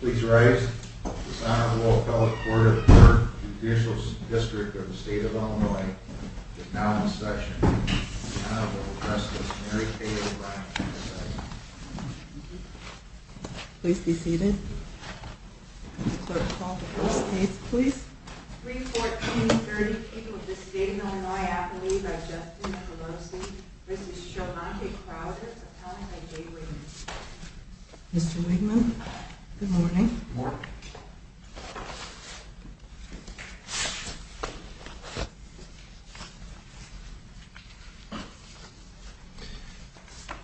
Please rise. The Senate will call the Court of Appeal. The Judicial District of the State of Illinois is now in session. The Senate will address Ms. Mary Kay O'Brien. Please be seated. Clerk, call the first case, please. 3-14-30, People of the State of Illinois, Appellee by Justin Pelosi v. Shemontae Crowder, appellant by Jay Wigman. Mr. Wigman, good morning.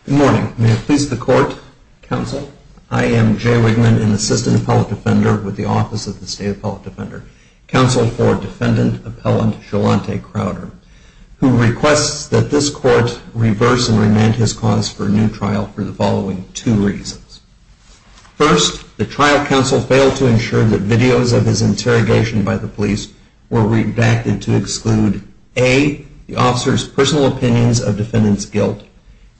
Good morning. Good morning. May it please the Court, Counsel. I am Jay Wigman, an Assistant Appellate Defender with the Office of the State Appellate Defender, Counsel for Defendant Appellant Shemontae Crowder, who requests that this Court reverse and remand his cause for a new trial for the following two reasons. First, the trial counsel failed to ensure that videos of his interrogation by the police were redacted to exclude a. the officer's personal opinions of defendant's guilt,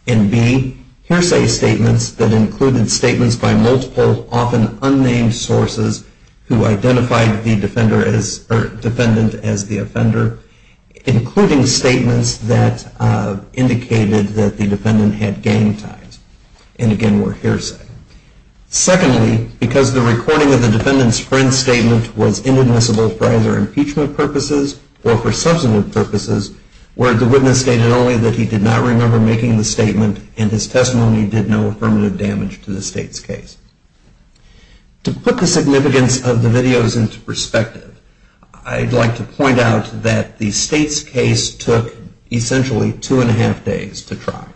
and b. hearsay statements that included statements by multiple, often unnamed sources who identified the defendant as the offender, including statements that indicated that the defendant had gang ties, and again were hearsay. Secondly, because the recording of the defendant's friend's statement was inadmissible for either impeachment purposes or for substantive purposes, where the witness stated only that he did not remember making the statement and his testimony did no affirmative damage to the State's case. To put the significance of the videos into perspective, I'd like to point out that the State's case took essentially two and a half days to try.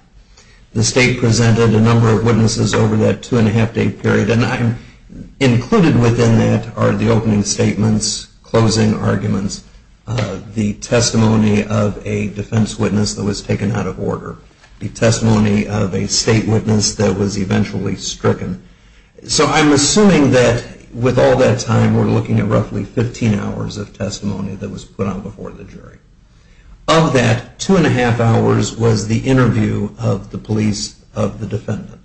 The State presented a number of witnesses over that two and a half day period, and included within that are the opening statements, closing arguments, the testimony of a defense witness that was taken out of order, the testimony of a State witness that was eventually stricken. So I'm assuming that with all that time, we're looking at roughly 15 hours of testimony that was put on before the jury. Of that, two and a half hours was the interview of the police of the defendant.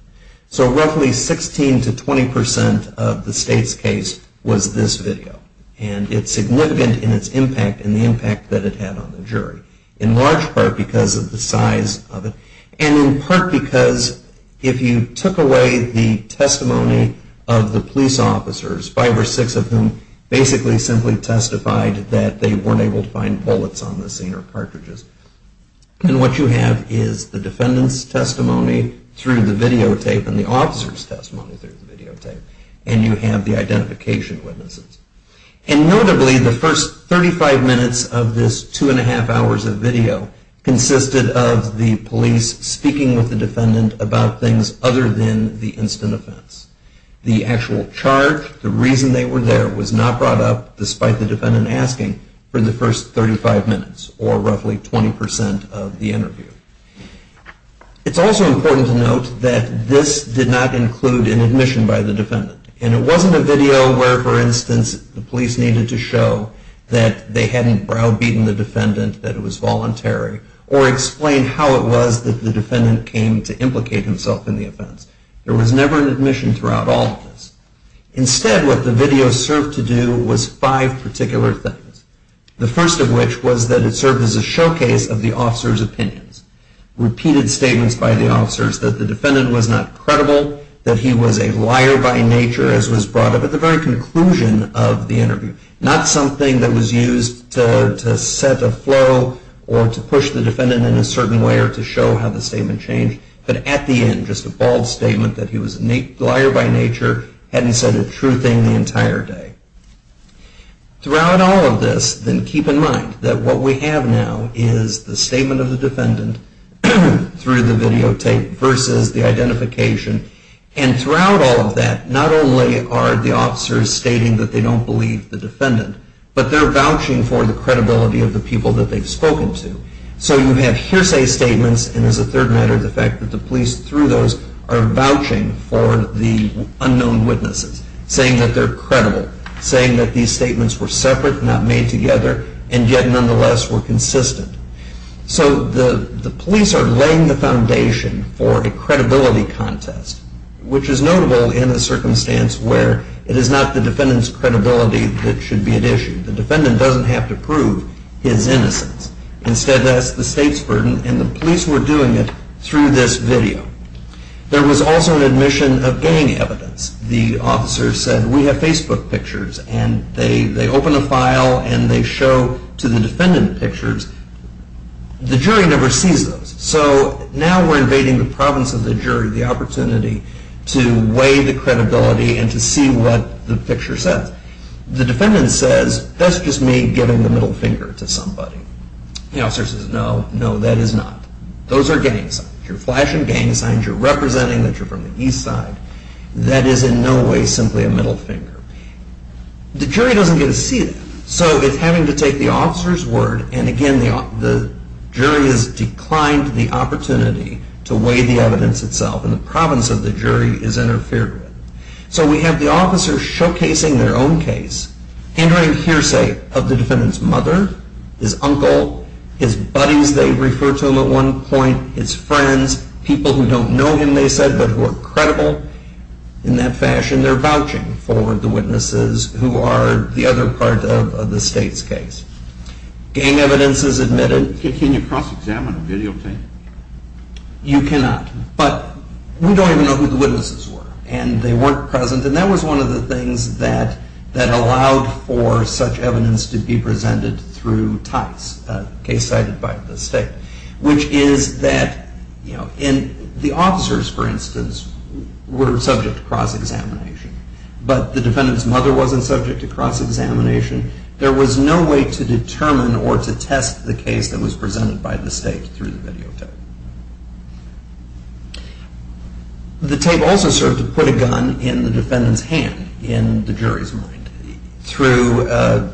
So roughly 16 to 20% of the State's case was this video, and it's significant in its impact and the impact that it had on the jury. In large part because of the size of it, and in part because if you took away the testimony of the police officers, five or six of whom basically simply testified that they weren't able to find bullets on the scene or cartridges, and what you have is the defendant's testimony through the video. You have the videotape and the officer's testimony through the videotape, and you have the identification witnesses. And notably, the first 35 minutes of this two and a half hours of video consisted of the police speaking with the defendant about things other than the instant offense. The actual charge, the reason they were there, was not brought up despite the defendant asking for the first 35 minutes, or roughly 20% of the interview. It's also important to note that this did not include an admission by the defendant. And it wasn't a video where, for instance, the police needed to show that they hadn't browbeaten the defendant, that it was voluntary, or explain how it was that the defendant came to implicate himself in the offense. There was never an admission throughout all of this. Repeated statements by the officers that the defendant was not credible, that he was a liar by nature, as was brought up at the very conclusion of the interview. Not something that was used to set a flow, or to push the defendant in a certain way, or to show how the statement changed. But at the end, just a bald statement that he was a liar by nature, hadn't said a true thing the entire day. Throughout all of this, then keep in mind that what we have now is the statement of the defendant, through the videotape, versus the identification. And throughout all of that, not only are the officers stating that they don't believe the defendant, but they're vouching for the credibility of the people that they've spoken to. So you have hearsay statements, and as a third matter, the fact that the police, through those, are vouching for the unknown witnesses, saying that they're credible. Saying that these statements were separate, not made together, and yet, nonetheless, were consistent. So the police are laying the foundation for a credibility contest, which is notable in a circumstance where it is not the defendant's credibility that should be at issue. The defendant doesn't have to prove his innocence. Instead, that's the state's burden, and the police were doing it through this video. There was also an admission of gang evidence. The officer said, we have Facebook pictures, and they open a file and they show to the defendant pictures. The jury never sees those. So now we're invading the province of the jury, the opportunity to weigh the credibility and to see what the picture says. The defendant says, that's just me giving the middle finger to somebody. The officer says, no, no, that is not. Those are gang signs. You're flashing gang signs. You're representing that you're from the east side. That is in no way simply a middle finger. The jury doesn't get to see that. So it's having to take the officer's word, and again, the jury has declined the opportunity to weigh the evidence itself, and the province of the jury is interfered with. So we have the officer showcasing their own case, entering hearsay of the defendant's mother, his uncle, his buddies they refer to him at one point, his friends, people who don't know him, they said, but who are credible. In that fashion, they're vouching for the witnesses who are the other part of the state's case. Gang evidence is admitted. Can you cross-examine a videotape? You cannot. But we don't even know who the witnesses were, and they weren't present, and that was one of the things that allowed for such evidence to be presented through TICE, a case cited by the state, which is that the officers, for instance, were subject to cross-examination, but the defendant's mother wasn't subject to cross-examination. There was no way to determine or to test the case that was presented by the state through the videotape. The tape also served to put a gun in the defendant's hand, in the jury's mind, through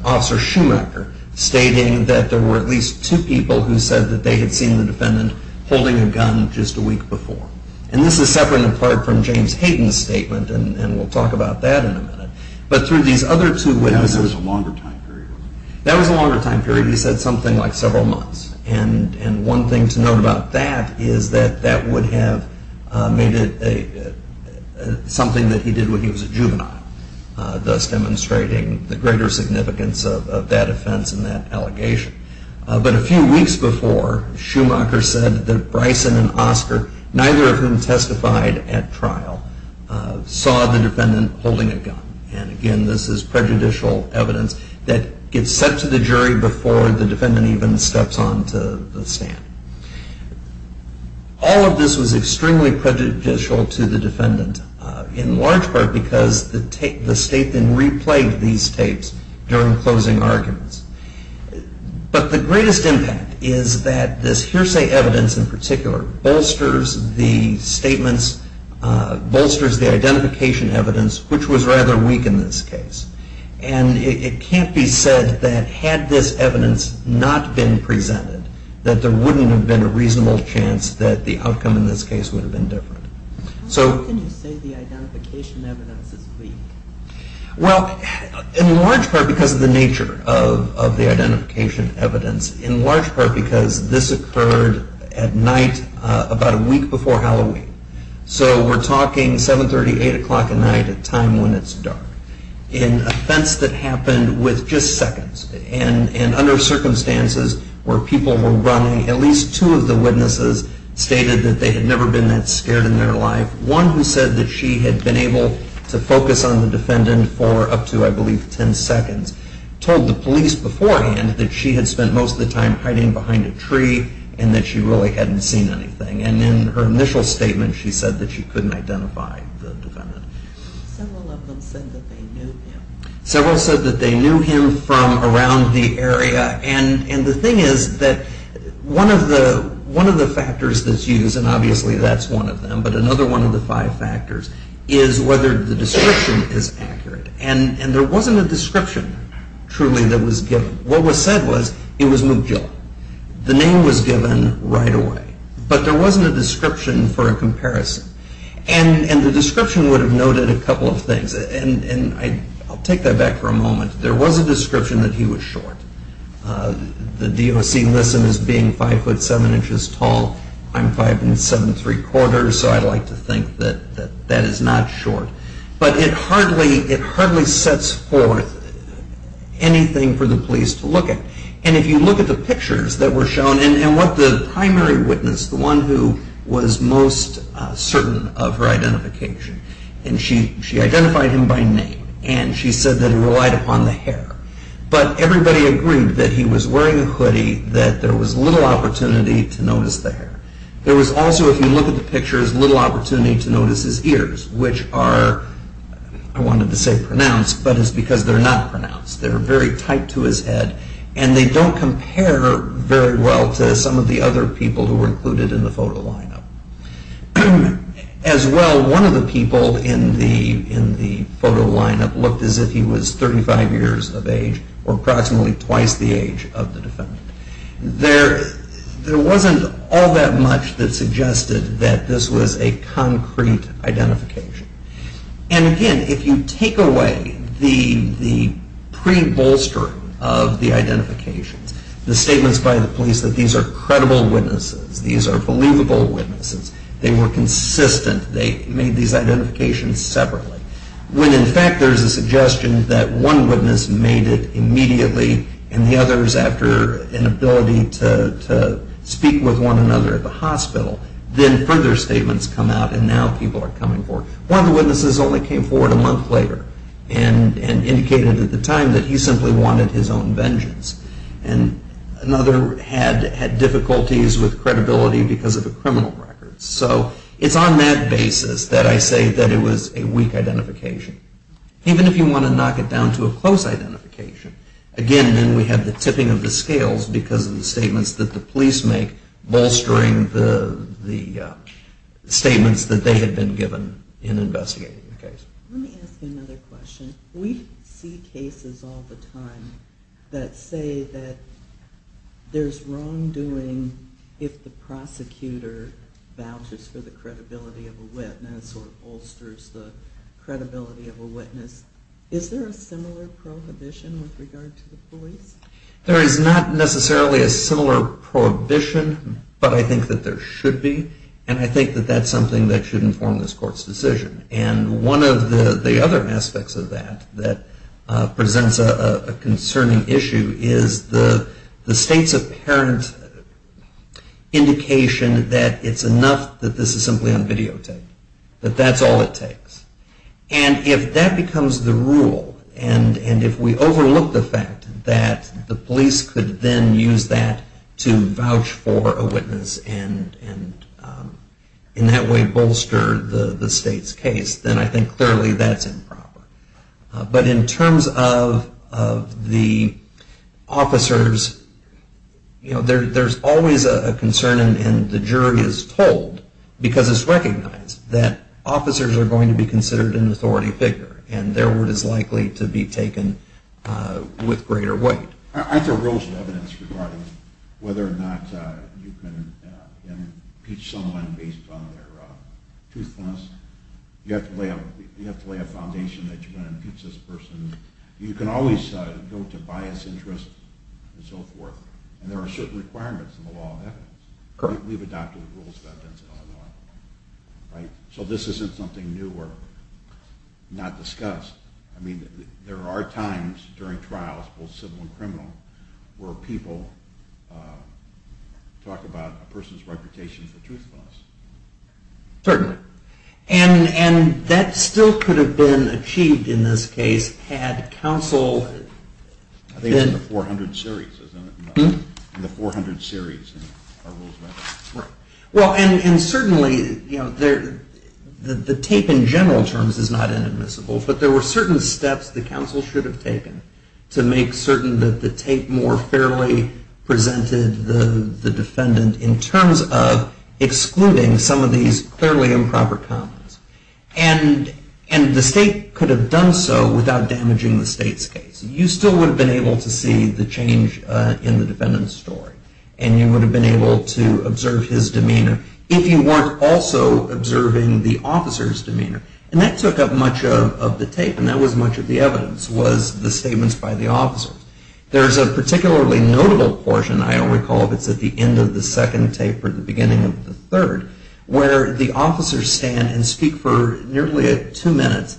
Officer Schumacher stating that there were at least two people who said that they had seen the defendant holding a gun just a week before, and this is separate in part from James Hayden's statement, and we'll talk about that in a minute, but through these other two witnesses... That was a longer time period. That was a longer time period. He said something like several months, and one thing to note about that is that that would have made it something that he did when he was a juvenile, thus demonstrating the greater significance of that offense and that allegation. But a few weeks before, Schumacher said that Bryson and Oscar, neither of whom testified at trial, saw the defendant holding a gun, and again, this is prejudicial evidence that gets sent to the jury before the defendant even steps onto the stand. All of this was extremely prejudicial to the defendant, in large part because the state then replayed these tapes during closing arguments. But the greatest impact is that this hearsay evidence, in particular, bolsters the statements, bolsters the identification evidence, which was rather weak in this case, and it can't be said that had this evidence not been presented, that there wouldn't have been a reasonable chance that the outcome in this case would have been different. So... How can you say the identification evidence is weak? Well, in large part because of the nature of the identification evidence, in large part because this occurred at night about a week before Halloween. So we're talking 7.30, 8 o'clock at night at a time when it's dark. In an offense that happened with just seconds, and under circumstances where people were running, at least two of the witnesses stated that they had never been that scared in their life. One who said that she had been able to focus on the defendant for up to, I believe, 10 seconds, told the police beforehand that she had spent most of the time hiding behind a tree, and that she really hadn't seen anything. And in her initial statement, she said that she couldn't identify the defendant. Several of them said that they knew him. Several said that they knew him from around the area, and the thing is that one of the factors that's used, and obviously that's one of them, but another one of the five factors, is whether the description is accurate. And there wasn't a description, truly, that was given. What was said was it was Mugillo. The name was given right away. But there wasn't a description for a comparison. And the description would have noted a couple of things, and I'll take that back for a moment. There was a description that he was short. The DOC lists him as being 5'7 inches tall. I'm 5'7 3 quarters, so I like to think that that is not short. But it hardly sets forth anything for the police to look at. And if you look at the pictures that were shown, and what the primary witness, the one who was most certain of her identification, and she identified him by name, and she said that he relied upon the hair. But everybody agreed that he was wearing a hoodie, that there was little opportunity to notice the hair. There was also, if you look at the pictures, little opportunity to notice his ears, which are, I wanted to say pronounced, but it's because they're not pronounced. They're very tight to his head, and they don't compare very well to some of the other people who were included in the photo lineup. As well, one of the people in the photo lineup looked as if he was 35 years of age, or approximately twice the age of the defendant. There wasn't all that much that suggested that this was a concrete identification. And again, if you take away the pre-bolstering of the identifications, the statements by the police that these are credible witnesses, these are believable witnesses, they were consistent, they made these identifications separately, when in fact there's a suggestion that one witness made it immediately, and the other is after an ability to speak with one another at the hospital. Then further statements come out, and now people are coming forward. One of the witnesses only came forward a month later, and indicated at the time that he simply wanted his own vengeance. And another had difficulties with credibility because of the criminal records. So it's on that basis that I say that it was a weak identification. Even if you want to knock it down to a close identification, again then we have the tipping of the scales because of the statements that the police make bolstering the statements that they had been given in investigating the case. Let me ask you another question. We see cases all the time that say that there's wrongdoing if the prosecutor vouches for the credibility of a witness or bolsters the credibility of a witness. Is there a similar prohibition with regard to the police? There is not necessarily a similar prohibition, but I think that there should be, and I think that that's something that should inform this court's decision. And one of the other aspects of that that presents a concerning issue is the state's apparent indication that it's enough that this is simply on videotape, that that's all it takes. And if that becomes the rule, and if we overlook the fact that the police could then use that to vouch for a witness and in that way bolster the state's case, then I think clearly that's improper. But in terms of the officers, there's always a concern, and the jury is told, because it's recognized, that officers are going to be considered an authority figure and their word is likely to be taken with greater weight. Aren't there rules of evidence regarding whether or not you can impeach someone based on their truthfulness? You have to lay a foundation that you're going to impeach this person. You can always go to biased interests and so forth, and there are certain requirements in the law of evidence. We've adopted rules of evidence in Illinois. So this isn't something new or not discussed. I mean, there are times during trials, both civil and criminal, where people talk about a person's reputation for truthfulness. Certainly. And that still could have been achieved in this case had counsel... I think it's in the 400 series, isn't it? In the 400 series are rules of evidence. Right. Well, and certainly the tape in general terms is not inadmissible, but there were certain steps that counsel should have taken to make certain that the tape more fairly presented the defendant in terms of excluding some of these clearly improper comments. And the state could have done so without damaging the state's case. You still would have been able to see the change in the defendant's story, and you would have been able to observe his demeanor if you weren't also observing the officer's demeanor. And that took up much of the tape, and that was much of the evidence, was the statements by the officers. There's a particularly notable portion, I recall, that's at the end of the second tape or the beginning of the third, where the officers stand and speak for nearly two minutes,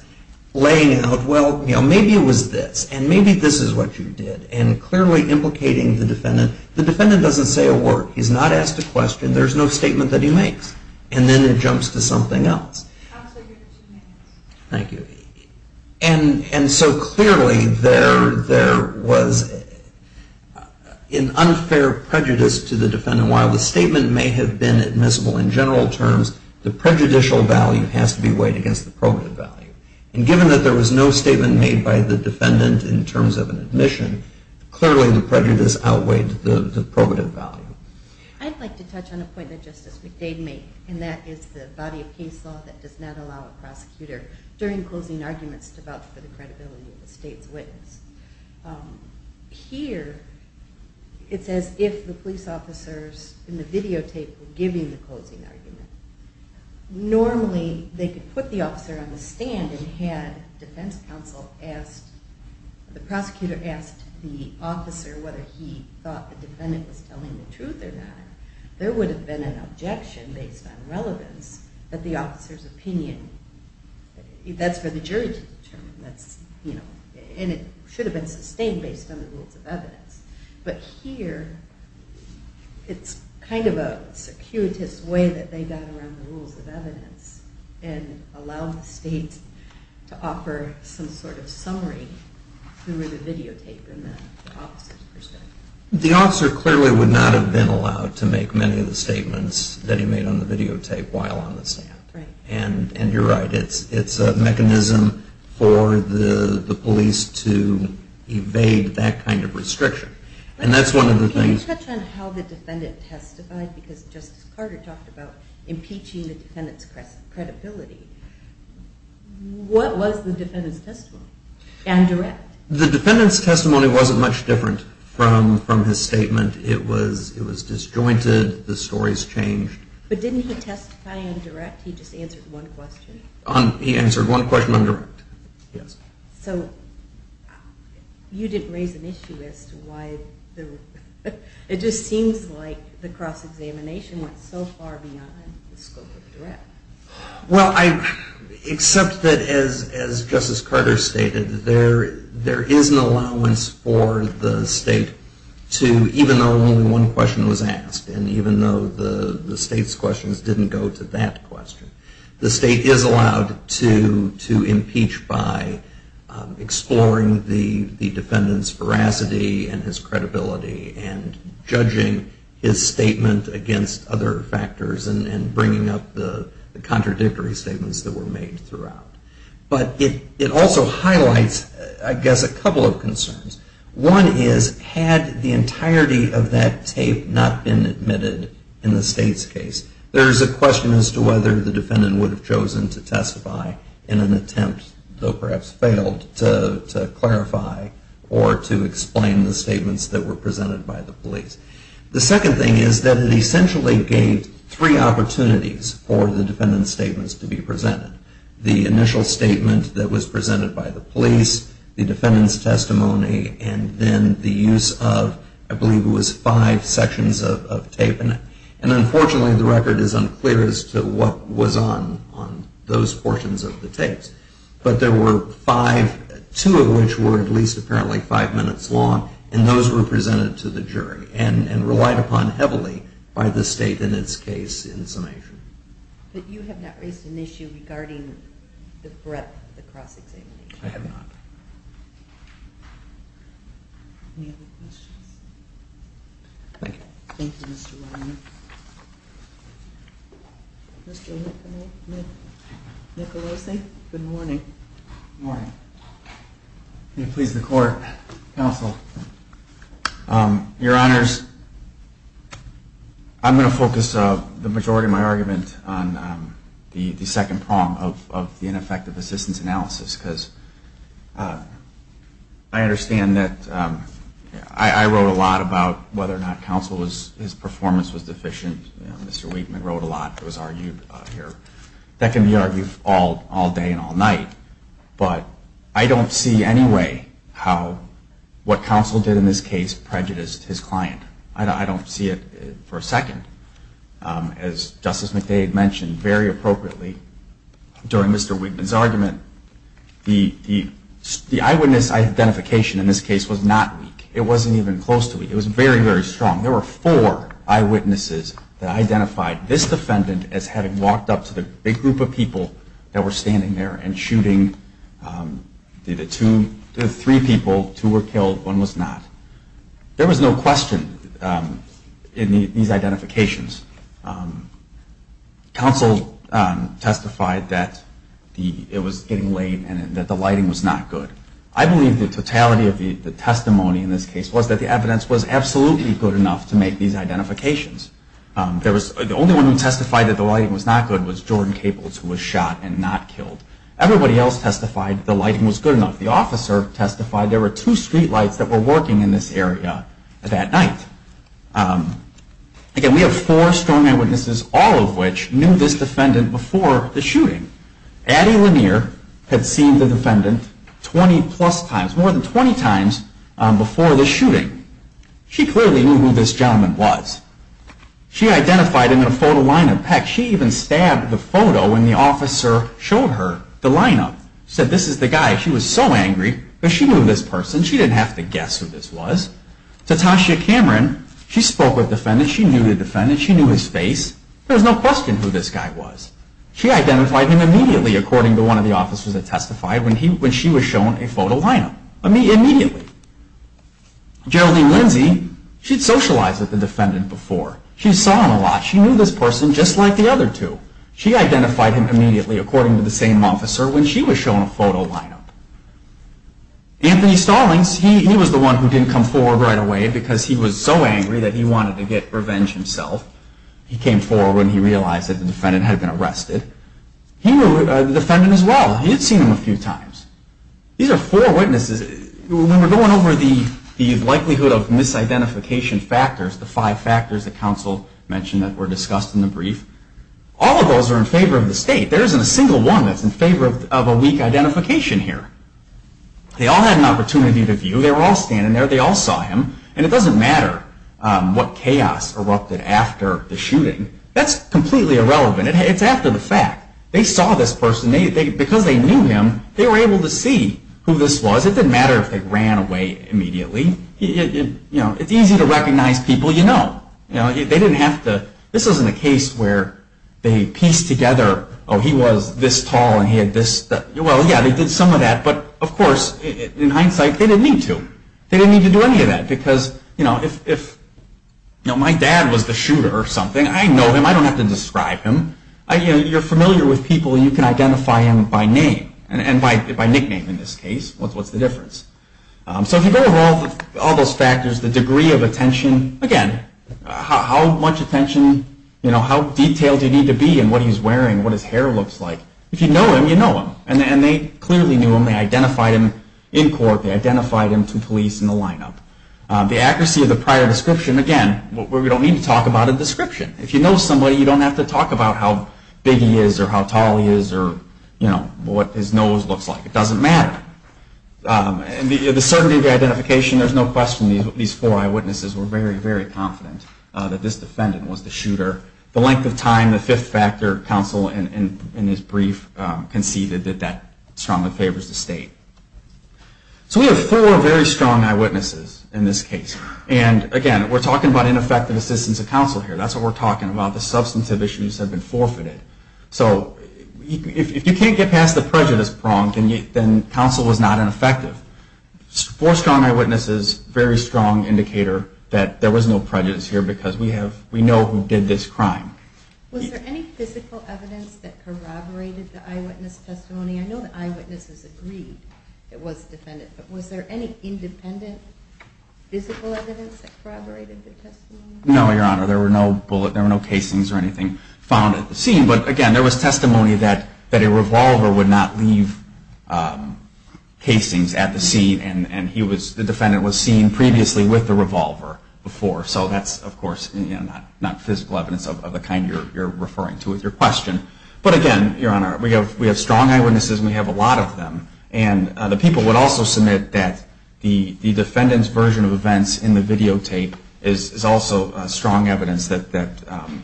laying out, well, maybe it was this, and maybe this is what you did, and clearly implicating the defendant. The defendant doesn't say a word. He's not asked a question. There's no statement that he makes. And then it jumps to something else. Thank you. And so clearly there was an unfair prejudice to the defendant. While the statement may have been admissible in general terms, the prejudicial value has to be weighed against the probative value. And given that there was no statement made by the defendant in terms of an admission, clearly the prejudice outweighed the probative value. I'd like to touch on a point that Justice McDade made, and that is the body of case law that does not allow a prosecutor during closing arguments to vouch for the credibility of the state's witness. Here it says if the police officers in the videotape were giving the closing argument, normally they could put the officer on the stand and had defense counsel ask, the prosecutor ask the officer whether he thought the defendant was telling the truth or not. There would have been an objection based on relevance that the officer's opinion, that's for the jury to determine. And it should have been sustained based on the rules of evidence. But here it's kind of a circuitous way that they got around the rules of evidence and allowed the state to offer some sort of summary through the videotape in the officer's perspective. The officer clearly would not have been allowed to make many of the statements that he made on the videotape while on the stand. And you're right, it's a mechanism for the police to evade that kind of restriction. And that's one of the things. Can you touch on how the defendant testified? Because Justice Carter talked about impeaching the defendant's credibility. What was the defendant's testimony? And direct. The defendant's testimony wasn't much different from his statement. It was disjointed, the stories changed. But didn't he testify on direct? He just answered one question. He answered one question on direct. Yes. So you didn't raise an issue as to why it just seems like the cross-examination went so far beyond the scope of direct. Well, except that, as Justice Carter stated, there is an allowance for the state to, even though only one question was asked, and even though the state's questions didn't go to that question, the state is allowed to impeach by exploring the defendant's veracity and his credibility and judging his statement against other factors and bringing up the contradictory statements that were made throughout. But it also highlights, I guess, a couple of concerns. One is, had the entirety of that tape not been admitted in the state's to whether the defendant would have chosen to testify in an attempt, though perhaps failed, to clarify or to explain the statements that were presented by the police. The second thing is that it essentially gave three opportunities for the defendant's statements to be presented. The initial statement that was presented by the police, the defendant's testimony, and then the use of, I believe it was, five sections of tape in it. And unfortunately, the record is unclear as to what was on those portions of the tapes. But there were five, two of which were at least apparently five minutes long, and those were presented to the jury and relied upon heavily by the state in its case in summation. But you have not raised an issue regarding the breadth of the cross-examination. I have not. Any other questions? Thank you. Thank you, Mr. Weinberg. Mr. Nicolosi? Good morning. Good morning. May it please the Court, Counsel. Your Honors, I'm going to focus the majority of my argument on the second prong of the ineffective assistance analysis because I understand that I wrote a lot about whether or not Counsel's performance was deficient. Mr. Wigman wrote a lot that was argued here. That can be argued all day and all night, but I don't see any way how what Counsel did in this case prejudiced his client. I don't see it for a second. As Justice McDade mentioned very appropriately during Mr. Wigman's argument, the eyewitness identification in this case was not weak. It wasn't even close to weak. It was very, very strong. There were four eyewitnesses that identified this defendant as having walked up to the big group of people that were standing there and shooting the three people. Two were killed. One was not. There was no question in these identifications. Counsel testified that it was getting late and that the lighting was not good. I believe the totality of the testimony in this case was that the evidence was absolutely good enough to make these identifications. The only one who testified that the lighting was not good was Jordan Caples, who was shot and not killed. Everybody else testified the lighting was good enough. The officer testified there were two streetlights that were working in this area that night. Again, we have four strong eyewitnesses, all of which knew this defendant before the shooting. Addie Lanier had seen the defendant 20-plus times, more than 20 times before the shooting. She clearly knew who this gentleman was. She identified him in a photo lineup. Heck, she even stabbed the photo when the officer showed her the lineup. She said, this is the guy. She was so angry, but she knew this person. She didn't have to guess who this was. Tatashia Cameron, she spoke with the defendant. She knew the defendant. She knew his face. There was no question who this guy was. She identified him immediately, according to one of the officers that testified, when she was shown a photo lineup. Immediately. Geraldine Lindsey, she'd socialized with the defendant before. She saw him a lot. She knew this person just like the other two. She identified him immediately, according to the same officer, when she was shown a photo lineup. Anthony Stallings, he was the one who didn't come forward right away because he was so angry that he wanted to get revenge himself. He came forward when he realized that the defendant had been arrested. He knew the defendant as well. He had seen him a few times. These are four witnesses. When we're going over the likelihood of misidentification factors, the five factors that counsel mentioned that were discussed in the brief, all of those are in favor of the state. There isn't a single one that's in favor of a weak identification here. They all had an opportunity to view. They were all standing there. They all saw him. And it doesn't matter what chaos erupted after the shooting. That's completely irrelevant. It's after the fact. They saw this person. Because they knew him, they were able to see who this was. It didn't matter if they ran away immediately. It's easy to recognize people you know. They didn't have to. This isn't a case where they piece together, oh, he was this tall and he had this. Well, yeah, they did some of that. But, of course, in hindsight, they didn't need to. They didn't need to do any of that. Because if my dad was the shooter or something, I know him. I don't have to describe him. You're familiar with people. You can identify him by name and by nickname in this case. What's the difference? So if you go over all those factors, the degree of attention, again, how much attention, how detailed you need to be in what he's wearing, what his hair looks like, if you know him, you know him. And they clearly knew him. They identified him in court. They identified him to police in the lineup. The accuracy of the prior description, again, we don't need to talk about a description. If you know somebody, you don't have to talk about how big he is or how tall he is or what his nose looks like. It doesn't matter. And the certainty of the identification, there's no question these four eyewitnesses were very, very confident that this defendant was the shooter. The length of time, the fifth factor counsel in his brief conceded that strongly favors the state. So we have four very strong eyewitnesses in this case. And, again, we're talking about ineffective assistance of counsel here. That's what we're talking about. The substantive issues have been forfeited. So if you can't get past the prejudice prong, then counsel was not ineffective. Four strong eyewitnesses, very strong indicator that there was no prejudice here because we know who did this crime. Was there any physical evidence that corroborated the eyewitness testimony? I know the eyewitnesses agreed it was the defendant. But was there any independent physical evidence that corroborated the testimony? No, Your Honor. There were no bullet, there were no casings or anything found at the scene. But, again, there was testimony that a revolver would not leave casings at the scene. And the defendant was seen previously with the revolver before. So that's, of course, not physical evidence of the kind you're referring to with your question. But, again, Your Honor, we have strong eyewitnesses and we have a lot of them. And the people would also submit that the defendant's version of events in the videotape is also strong evidence that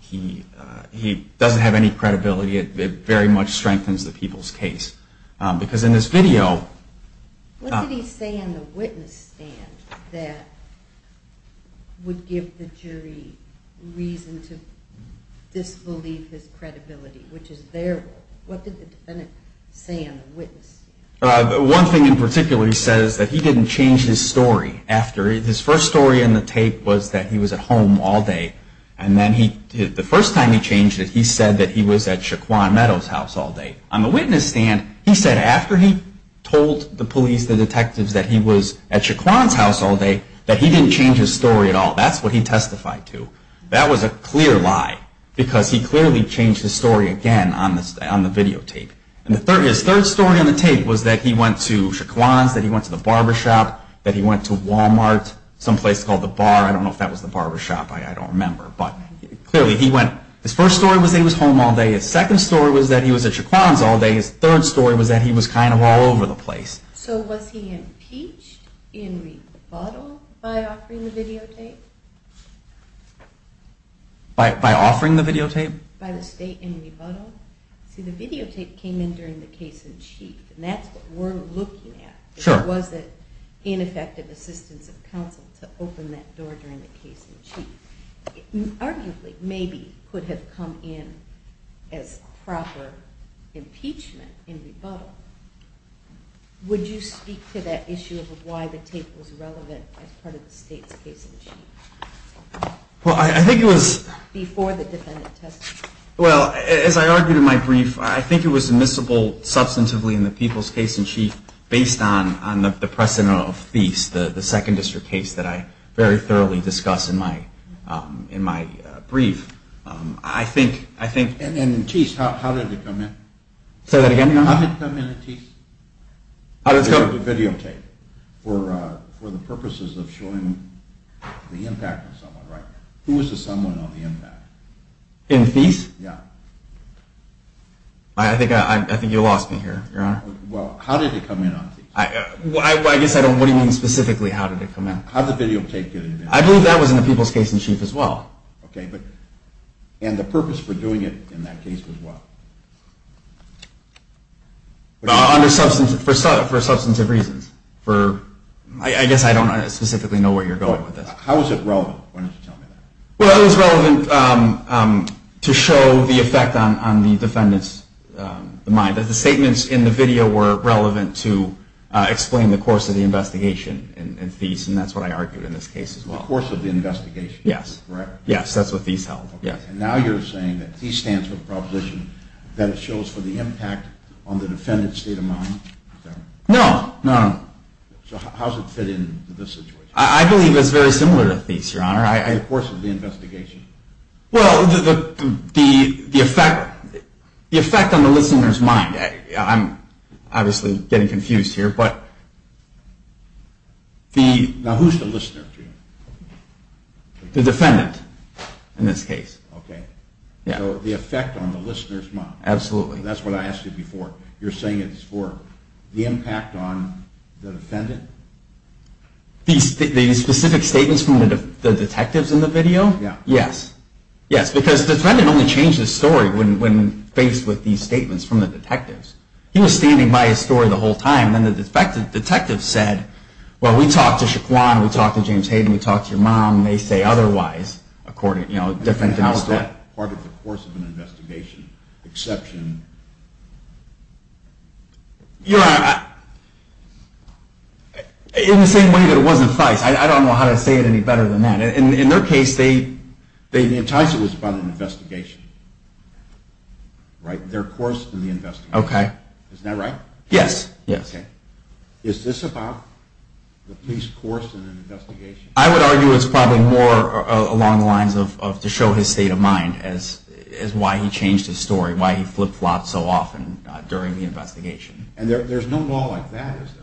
he doesn't have any credibility. It very much strengthens the people's case. Because in this video... What did he say in the witness stand that would give the jury reason to disbelieve his credibility, which is their word? What did the defendant say in the witness stand? One thing in particular, he says that he didn't change his story after. His first story in the tape was that he was at home all day. And then the first time he changed it, he said that he was at Shaquan Meadows' house all day. On the witness stand, he said after he told the police, the detectives, that he was at Shaquan's house all day, that he didn't change his story at all. That's what he testified to. That was a clear lie, because he clearly changed his story again on the videotape. And his third story on the tape was that he went to Shaquan's, that he went to the barbershop, that he went to Walmart, some place called The Bar. I don't know if that was the barbershop. I don't remember. But clearly he went... His first story was that he was home all day. His second story was that he was at Shaquan's all day. His third story was that he was kind of all over the place. So was he impeached in rebuttal by offering the videotape? By offering the videotape? By the state in rebuttal? See, the videotape came in during the case in chief. And that's what we're looking at. Sure. Was it ineffective assistance of counsel to open that door during the case in chief? Arguably, maybe, could have come in as proper impeachment in rebuttal. Would you speak to that issue of why the tape was relevant as part of the state's case in chief? Well, I think it was... Before the defendant testified. Well, as I argued in my brief, I think it was admissible substantively in the people's case in chief based on the precedent of the second district case that I very thoroughly discussed in my brief. I think... And in Thies, how did it come in? Say that again, Your Honor? How did it come in in Thies? The videotape. For the purposes of showing the impact of someone, right? Who was the someone on the impact? In Thies? Yeah. I think you lost me here, Your Honor. Well, how did it come in on Thies? I guess I don't know what you mean specifically how did it come in. How did the video tape get in there? I believe that was in the people's case in chief as well. Okay, but... And the purpose for doing it in that case was what? Under substantive... For substantive reasons. For... I guess I don't specifically know where you're going with this. How was it relevant? Why don't you tell me that? Well, it was relevant to show the effect on the defendant's mind. The statements in the video were relevant to explain the course of the investigation in Thies, and that's what I argued in this case as well. The course of the investigation. Yes. Correct? Yes, that's what Thies held. And now you're saying that Thies stands for the proposition that it shows for the impact on the defendant's state of mind? No. No, no. So how does it fit into this situation? I believe it's very similar to Thies, Your Honor. The course of the investigation. Well, the effect on the listener's mind. I'm obviously getting confused here, but... Now, who's the listener to you? The defendant in this case. Okay. Yeah. So the effect on the listener's mind. Absolutely. That's what I asked you before. You're saying it's for the impact on the defendant? These specific statements from the detectives in the video? Yeah. Yes. Yes, because the defendant only changed his story when faced with these statements from the detectives. He was standing by his story the whole time, and then the detectives said, well, we talked to Shaquan, we talked to James Hayden, we talked to your mom, and they say otherwise, according to, you know, different denouncement. How is that part of the course of an investigation? Exception? You're right. In the same way that it was in FICE. I don't know how to say it any better than that. In their case, they enticed it was about an investigation. Right? Their course in the investigation. Okay. Isn't that right? Yes. Yes. Okay. Is this about the police course in an investigation? I would argue it's probably more along the lines of to show his state of mind as why he changed his story, why he flipped flops so often during the investigation. And there's no law like that, is there?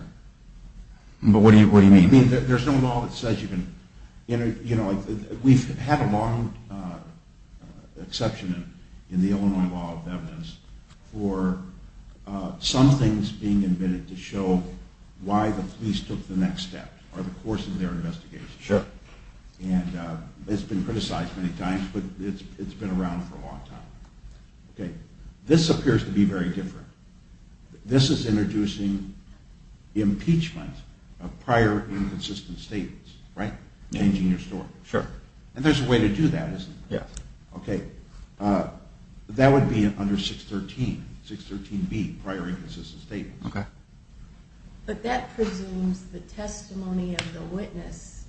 What do you mean? There's no law that says you can, you know, we've had a long exception in the Illinois law of evidence for some things being admitted to show why the police took the next step or the course of their investigation. Sure. And it's been criticized many times, but it's been around for a long time. Okay. This appears to be very different. This is introducing impeachment of prior inconsistent statements. Right? Changing your story. Sure. And there's a way to do that, isn't there? Yes. Okay. That would be under 613, 613B, prior inconsistent statements. Okay. But that presumes the testimony of the witness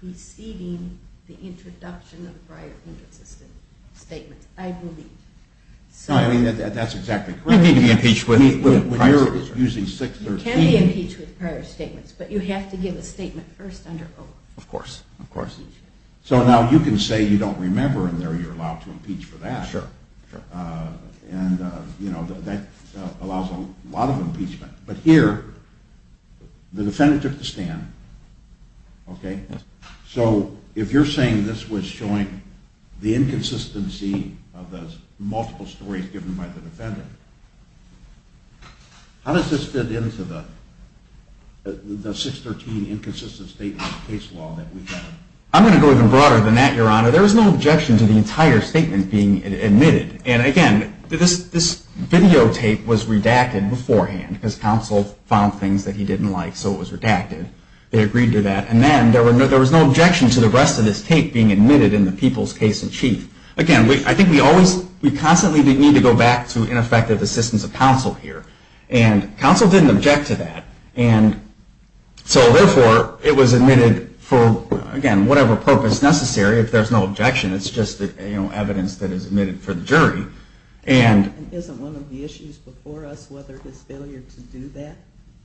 preceding the introduction of prior inconsistent statements. I believe. I mean, that's exactly correct. You can't be impeached with prior statements. You can be impeached with prior statements, but you have to give a statement first under O. Of course. Of course. So now you can say you don't remember and you're allowed to impeach for that. Sure. And, you know, that allows a lot of impeachment. But here, the defendant took the stand. Okay. So if you're saying this was showing the inconsistency of the multiple stories given by the defendant, how does this fit into the 613 inconsistent statement case law that we have? I'm going to go even broader than that, Your Honor. There was no objection to the entire statement being admitted. And, again, this videotape was redacted beforehand because counsel found things that he didn't like, so it was redacted. They agreed to that. And then there was no objection to the rest of this tape being admitted in the people's case in chief. Again, I think we constantly need to go back to ineffective assistance of counsel here. And counsel didn't object to that. And so, therefore, it was admitted for, again, whatever purpose necessary. If there's no objection, it's just evidence that is admitted for the jury. Isn't one of the issues before us whether this failure to do that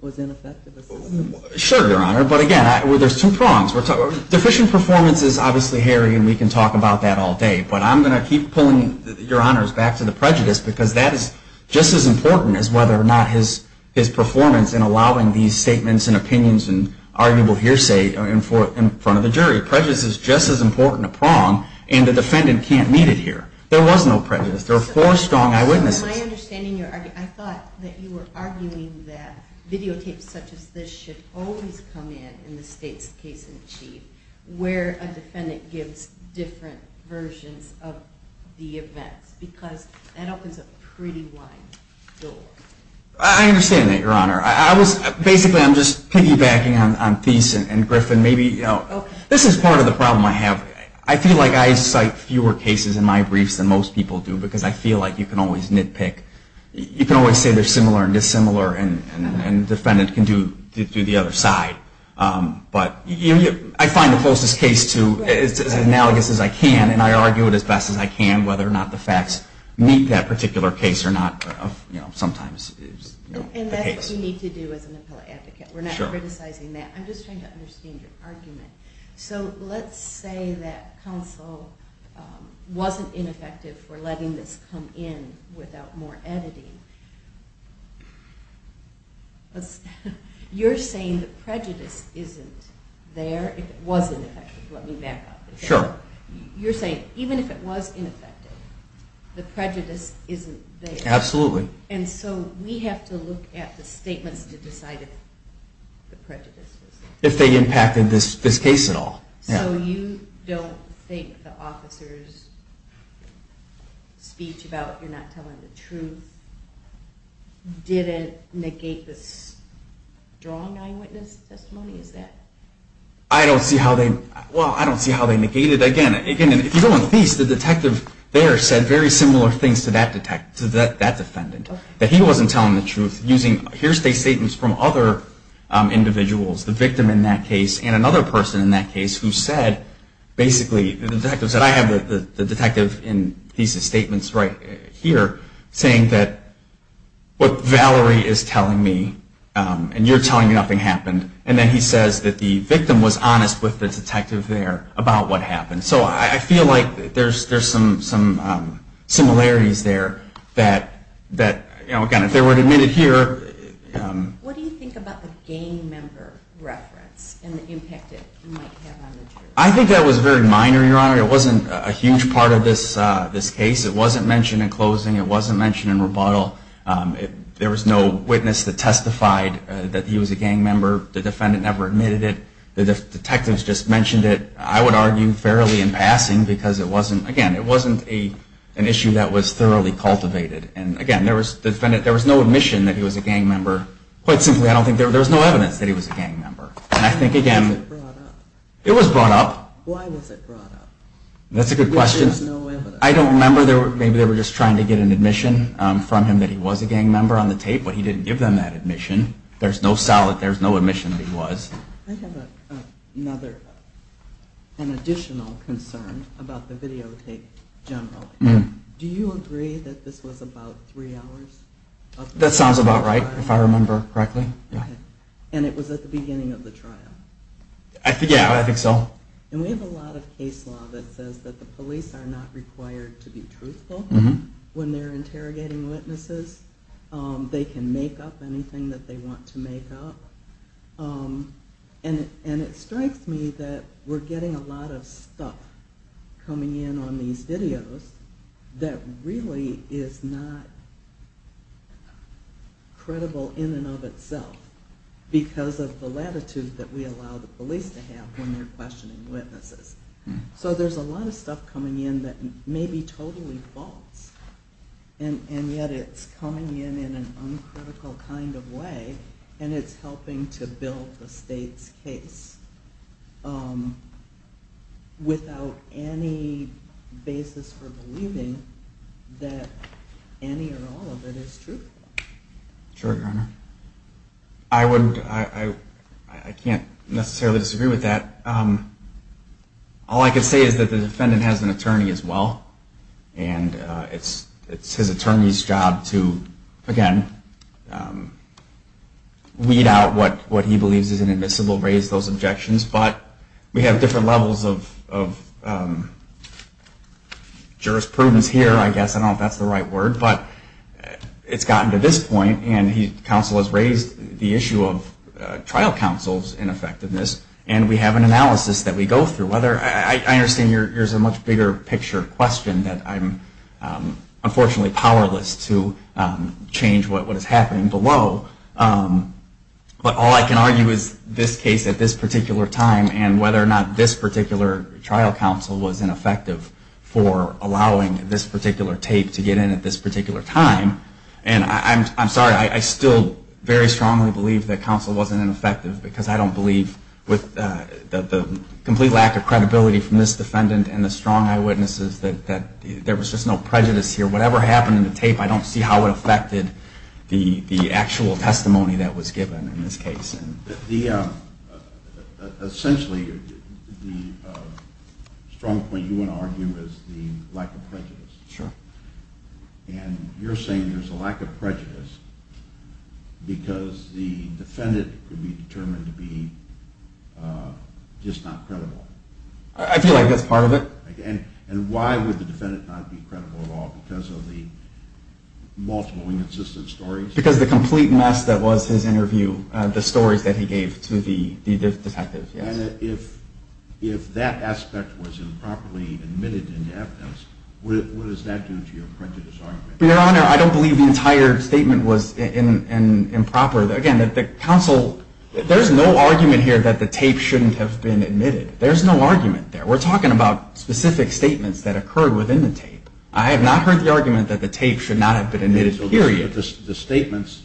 was ineffective assistance? Sure, Your Honor. But, again, there's two prongs. Deficient performance is obviously hairy, and we can talk about that all day. But I'm going to keep pulling Your Honors back to the prejudice because that is just as important as whether or not his performance in allowing these statements and opinions and arguable hearsay in front of the jury. Prejudice is just as important a prong, and the defendant can't meet it here. There was no prejudice. There were four strong eyewitnesses. I thought that you were arguing that videotapes such as this should always come in in the state's case in chief where a defendant gives different versions of the events because that opens a pretty wide door. I understand that, Your Honor. Basically, I'm just piggybacking on Thies and Griffin. This is part of the problem I have. I feel like I cite fewer cases in my briefs than most people do because I feel like you can always nitpick. You can always say they're similar and dissimilar, and the defendant can do the other side. But I find the closest case to as analogous as I can, and I argue it as best as I can whether or not the facts meet that particular case or not sometimes. And that's what you need to do as an appellate advocate. We're not criticizing that. I'm just trying to understand your argument. So let's say that counsel wasn't ineffective for letting this come in without more editing. You're saying the prejudice isn't there if it was ineffective. Let me back up. Sure. You're saying even if it was ineffective, the prejudice isn't there. Absolutely. And so we have to look at the statements to decide if the prejudice is there. If they impacted this case at all. So you don't think the officer's speech about you're not telling the truth didn't negate the strong eyewitness testimony? I don't see how they negated it. Again, if you go on F.E.A.S.T., the detective there said very similar things to that defendant, that he wasn't telling the truth. Here's the statements from other individuals, the victim in that case and another person in that case who said basically, the detective said I have the detective in these statements right here saying that what Valerie is telling me, and you're telling me nothing happened. And then he says that the victim was honest with the detective there about what happened. So I feel like there's some similarities there. Again, if they were to admit it here. What do you think about the gang member reference and the impact it might have on the jury? I think that was very minor, Your Honor. It wasn't a huge part of this case. It wasn't mentioned in closing. It wasn't mentioned in rebuttal. There was no witness that testified that he was a gang member. The defendant never admitted it. The detectives just mentioned it, I would argue, fairly in passing because it wasn't, again, it wasn't an issue that was thoroughly cultivated. And again, there was no admission that he was a gang member. Quite simply, I don't think there was no evidence that he was a gang member. And I think, again, it was brought up. Why was it brought up? That's a good question. I don't remember. Maybe they were just trying to get an admission from him that he was a gang member on the tape, but he didn't give them that admission. There's no solid, there's no admission that he was. I have another, an additional concern about the videotape in general. Do you agree that this was about three hours? That sounds about right, if I remember correctly. And it was at the beginning of the trial? Yeah, I think so. And we have a lot of case law that says that the police are not required to be truthful when they're interrogating witnesses. They can make up anything that they want to make up. And it strikes me that we're getting a lot of stuff coming in on these videos that really is not credible in and of itself because of the latitude that we allow the police to have when they're questioning witnesses. So there's a lot of stuff coming in that maybe totally false, and yet it's coming in in an uncritical kind of way, and it's helping to build the state's case without any basis for believing that any or all of it is truthful. Sure, Your Honor. I can't necessarily disagree with that. All I can say is that the defendant has an attorney as well, and it's his attorney's job to, again, weed out what he believes is inadmissible, raise those objections. But we have different levels of jurisprudence here, I guess. I don't know if that's the right word, but it's gotten to this point, and the counsel has raised the issue of trial counsel's ineffectiveness, and we have an analysis that we go through. I understand there's a much bigger picture question that I'm unfortunately powerless to change what is happening below, but all I can argue is this case at this particular time and whether or not this particular trial counsel was ineffective for allowing this particular tape to get in at this particular time. And I'm sorry, I still very strongly believe that counsel wasn't ineffective because I don't believe with the complete lack of credibility from this defendant and the strong eyewitnesses that there was just no prejudice here. Whatever happened in the tape, I don't see how it affected the actual testimony that was given in this case. Essentially, the strong point you want to argue is the lack of prejudice. Sure. And you're saying there's a lack of prejudice because the defendant could be determined to be just not credible? I feel like that's part of it. And why would the defendant not be credible at all because of the multiple inconsistent stories? Because of the complete mess that was his interview, the stories that he gave to the detectives, yes. And if that aspect was improperly admitted into evidence, what does that do to your prejudice argument? Your Honor, I don't believe the entire statement was improper. Again, there's no argument here that the tape shouldn't have been admitted. There's no argument there. We're talking about specific statements that occurred within the tape. I have not heard the argument that the tape should not have been admitted, period. The statements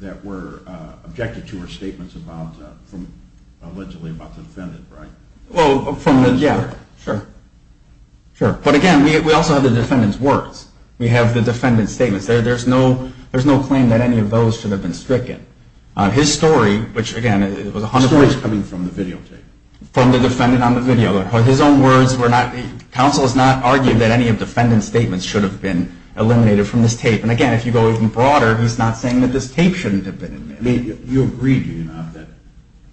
that were objected to were statements allegedly about the defendant, right? Well, from the, yeah, sure. But again, we also have the defendant's words. We have the defendant's statements. There's no claim that any of those should have been stricken. His story, which, again, it was 100%- The story is coming from the videotape. From the defendant on the videotape. His own words were not, counsel has not argued that any of the defendant's statements should have been eliminated from this tape. And again, if you go even broader, he's not saying that this tape shouldn't have been admitted. You agree, do you not,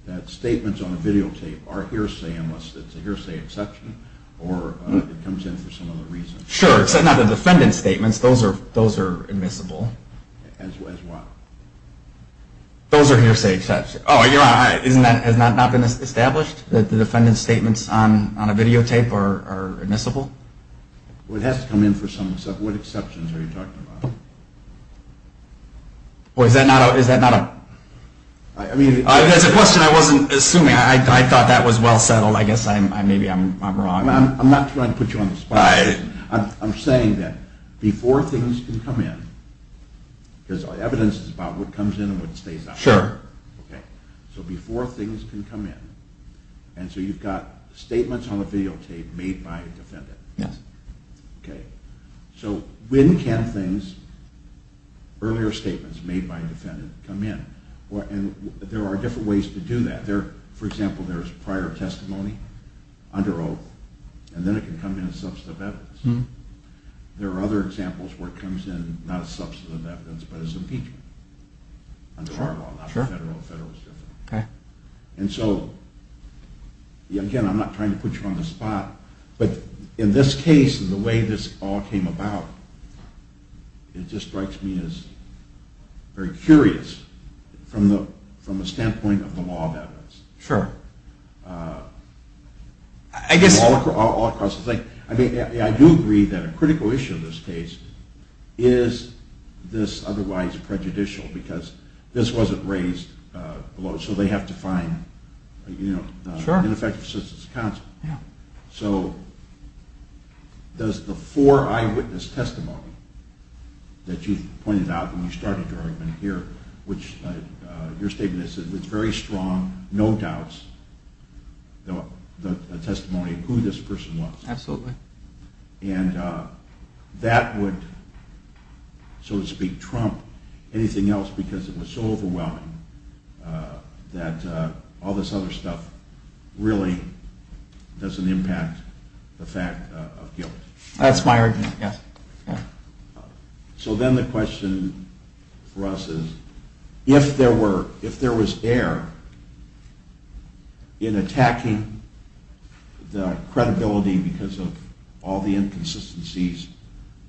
that statements on a videotape are hearsay unless it's a hearsay exception or it comes in for some other reason? Sure, except not the defendant's statements. Those are admissible. As what? Those are hearsay exceptions. Oh, you're right. Has that not been established, that the defendant's statements on a videotape are admissible? Well, it has to come in for some other reason. What exceptions are you talking about? Well, is that not a- I mean- That's a question I wasn't assuming. I thought that was well settled. I guess maybe I'm wrong. I'm not trying to put you on the spot. I'm saying that before things can come in, because evidence is about what comes in and what stays out. Sure. Okay. So before things can come in, and so you've got statements on a videotape made by a defendant. Yes. Okay. So when can things, earlier statements made by a defendant, come in? And there are different ways to do that. For example, there's prior testimony under oath, and then it can come in as substantive evidence. There are other examples where it comes in not as substantive evidence, but as impeachment under our law, not federal. Federal is different. Okay. And so, again, I'm not trying to put you on the spot, but in this case and the way this all came about, it just strikes me as very curious from the standpoint of the law of evidence. Sure. All across the state. I do agree that a critical issue in this case is this otherwise prejudicial, because this wasn't raised below, so they have to find an ineffective assistance counsel. Yeah. So does the four eyewitness testimony that you pointed out when you started your argument here, which your statement is that it's very strong, no doubts, the testimony of who this person was. Absolutely. And that would, so to speak, trump anything else, because it was so overwhelming that all this other stuff really doesn't impact the fact of guilt. That's my argument, yes. So then the question for us is, if there was error in attacking the credibility because of all the inconsistencies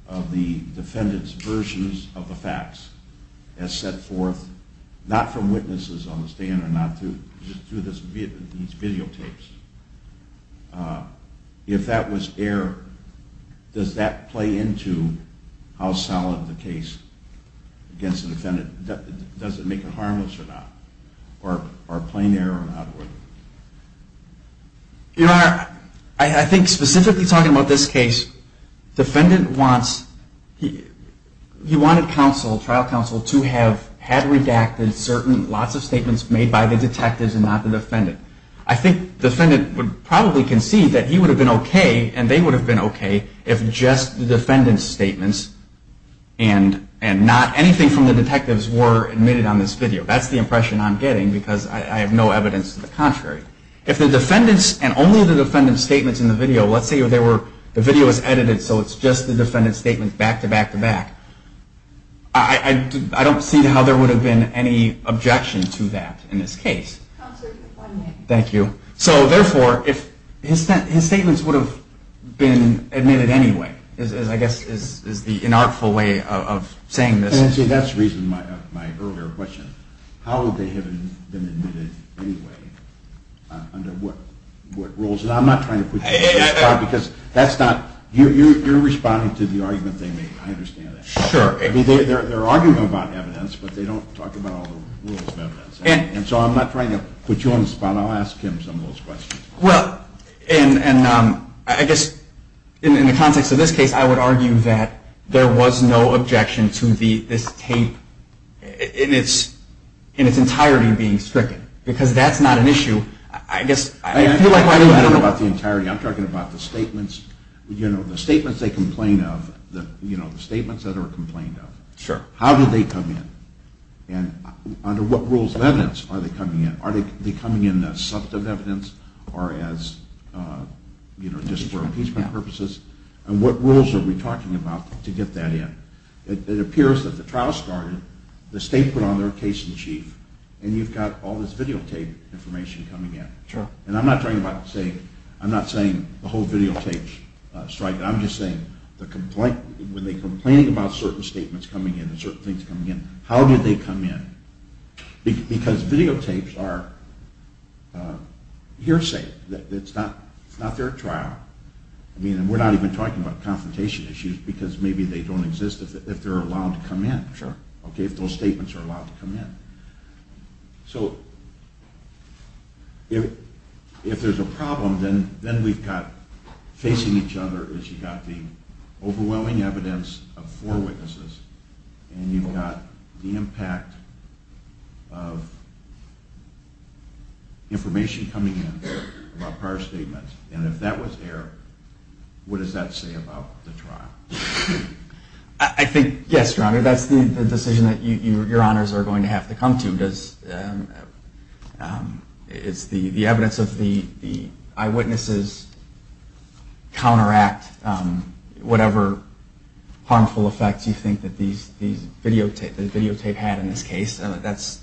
of the defendant's versions of the facts as set forth, not from witnesses on the stand or not through these videotapes, if that was error, does that play into how solid the case against the defendant, does it make it harmless or not? Or plain error or not? Your Honor, I think specifically talking about this case, defendant wants, he wanted counsel, trial counsel, to have had redacted certain, lots of statements made by the detectives and not the defendant. I think the defendant would probably concede that he would have been okay and they would have been okay if just the defendant's statements and not anything from the detectives were admitted on this video. That's the impression I'm getting because I have no evidence to the contrary. If the defendant's, and only the defendant's statements in the video, let's say the video was edited so it's just the defendant's statements back-to-back-to-back, I don't see how there would have been any objection to that in this case. Counsel, you have one minute. Thank you. So therefore, if his statements would have been admitted anyway, I guess is the inartful way of saying this. See, that's the reason of my earlier question. How would they have been admitted anyway under what rules? I'm not trying to put you on the spot because that's not, you're responding to the argument they make. I understand that. Sure. They're arguing about evidence, but they don't talk about all the rules of evidence. And so I'm not trying to put you on the spot. I'll ask him some of those questions. Well, and I guess in the context of this case, I would argue that there was no objection to this tape in its entirety being stricken because that's not an issue. I feel like I'm talking about the entirety. I'm talking about the statements they complain of, the statements that are complained of. Sure. How did they come in? And under what rules of evidence are they coming in? Are they coming in as substantive evidence or as just for appeasement purposes? And what rules are we talking about to get that in? It appears that the trial started, the state put on their case in chief, and you've got all this videotape information coming in. Sure. And I'm not saying the whole videotape strike. I'm just saying when they're complaining about certain statements coming in and certain things coming in, how did they come in? Because videotapes are hearsay. It's not their trial. I mean, we're not even talking about confrontation issues because maybe they don't exist if they're allowed to come in. Sure. Okay, if those statements are allowed to come in. So if there's a problem, then we've got facing each other is you've got the overwhelming evidence of four witnesses and you've got the impact of information coming in about prior statements. And if that was error, what does that say about the trial? I think, yes, Your Honor, that's the decision that Your Honors are going to have to come to. It's the evidence of the eyewitnesses counteract whatever harmful effects you think that the videotape had in this case. That's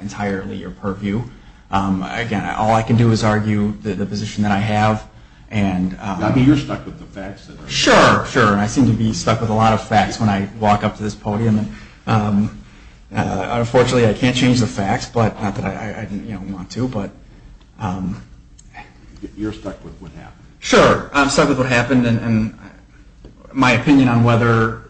entirely your purview. Again, all I can do is argue the position that I have. I mean, you're stuck with the facts. Sure, sure. I seem to be stuck with a lot of facts when I walk up to this podium. Unfortunately, I can't change the facts, not that I want to. You're stuck with what happened. Sure, I'm stuck with what happened. My opinion on whether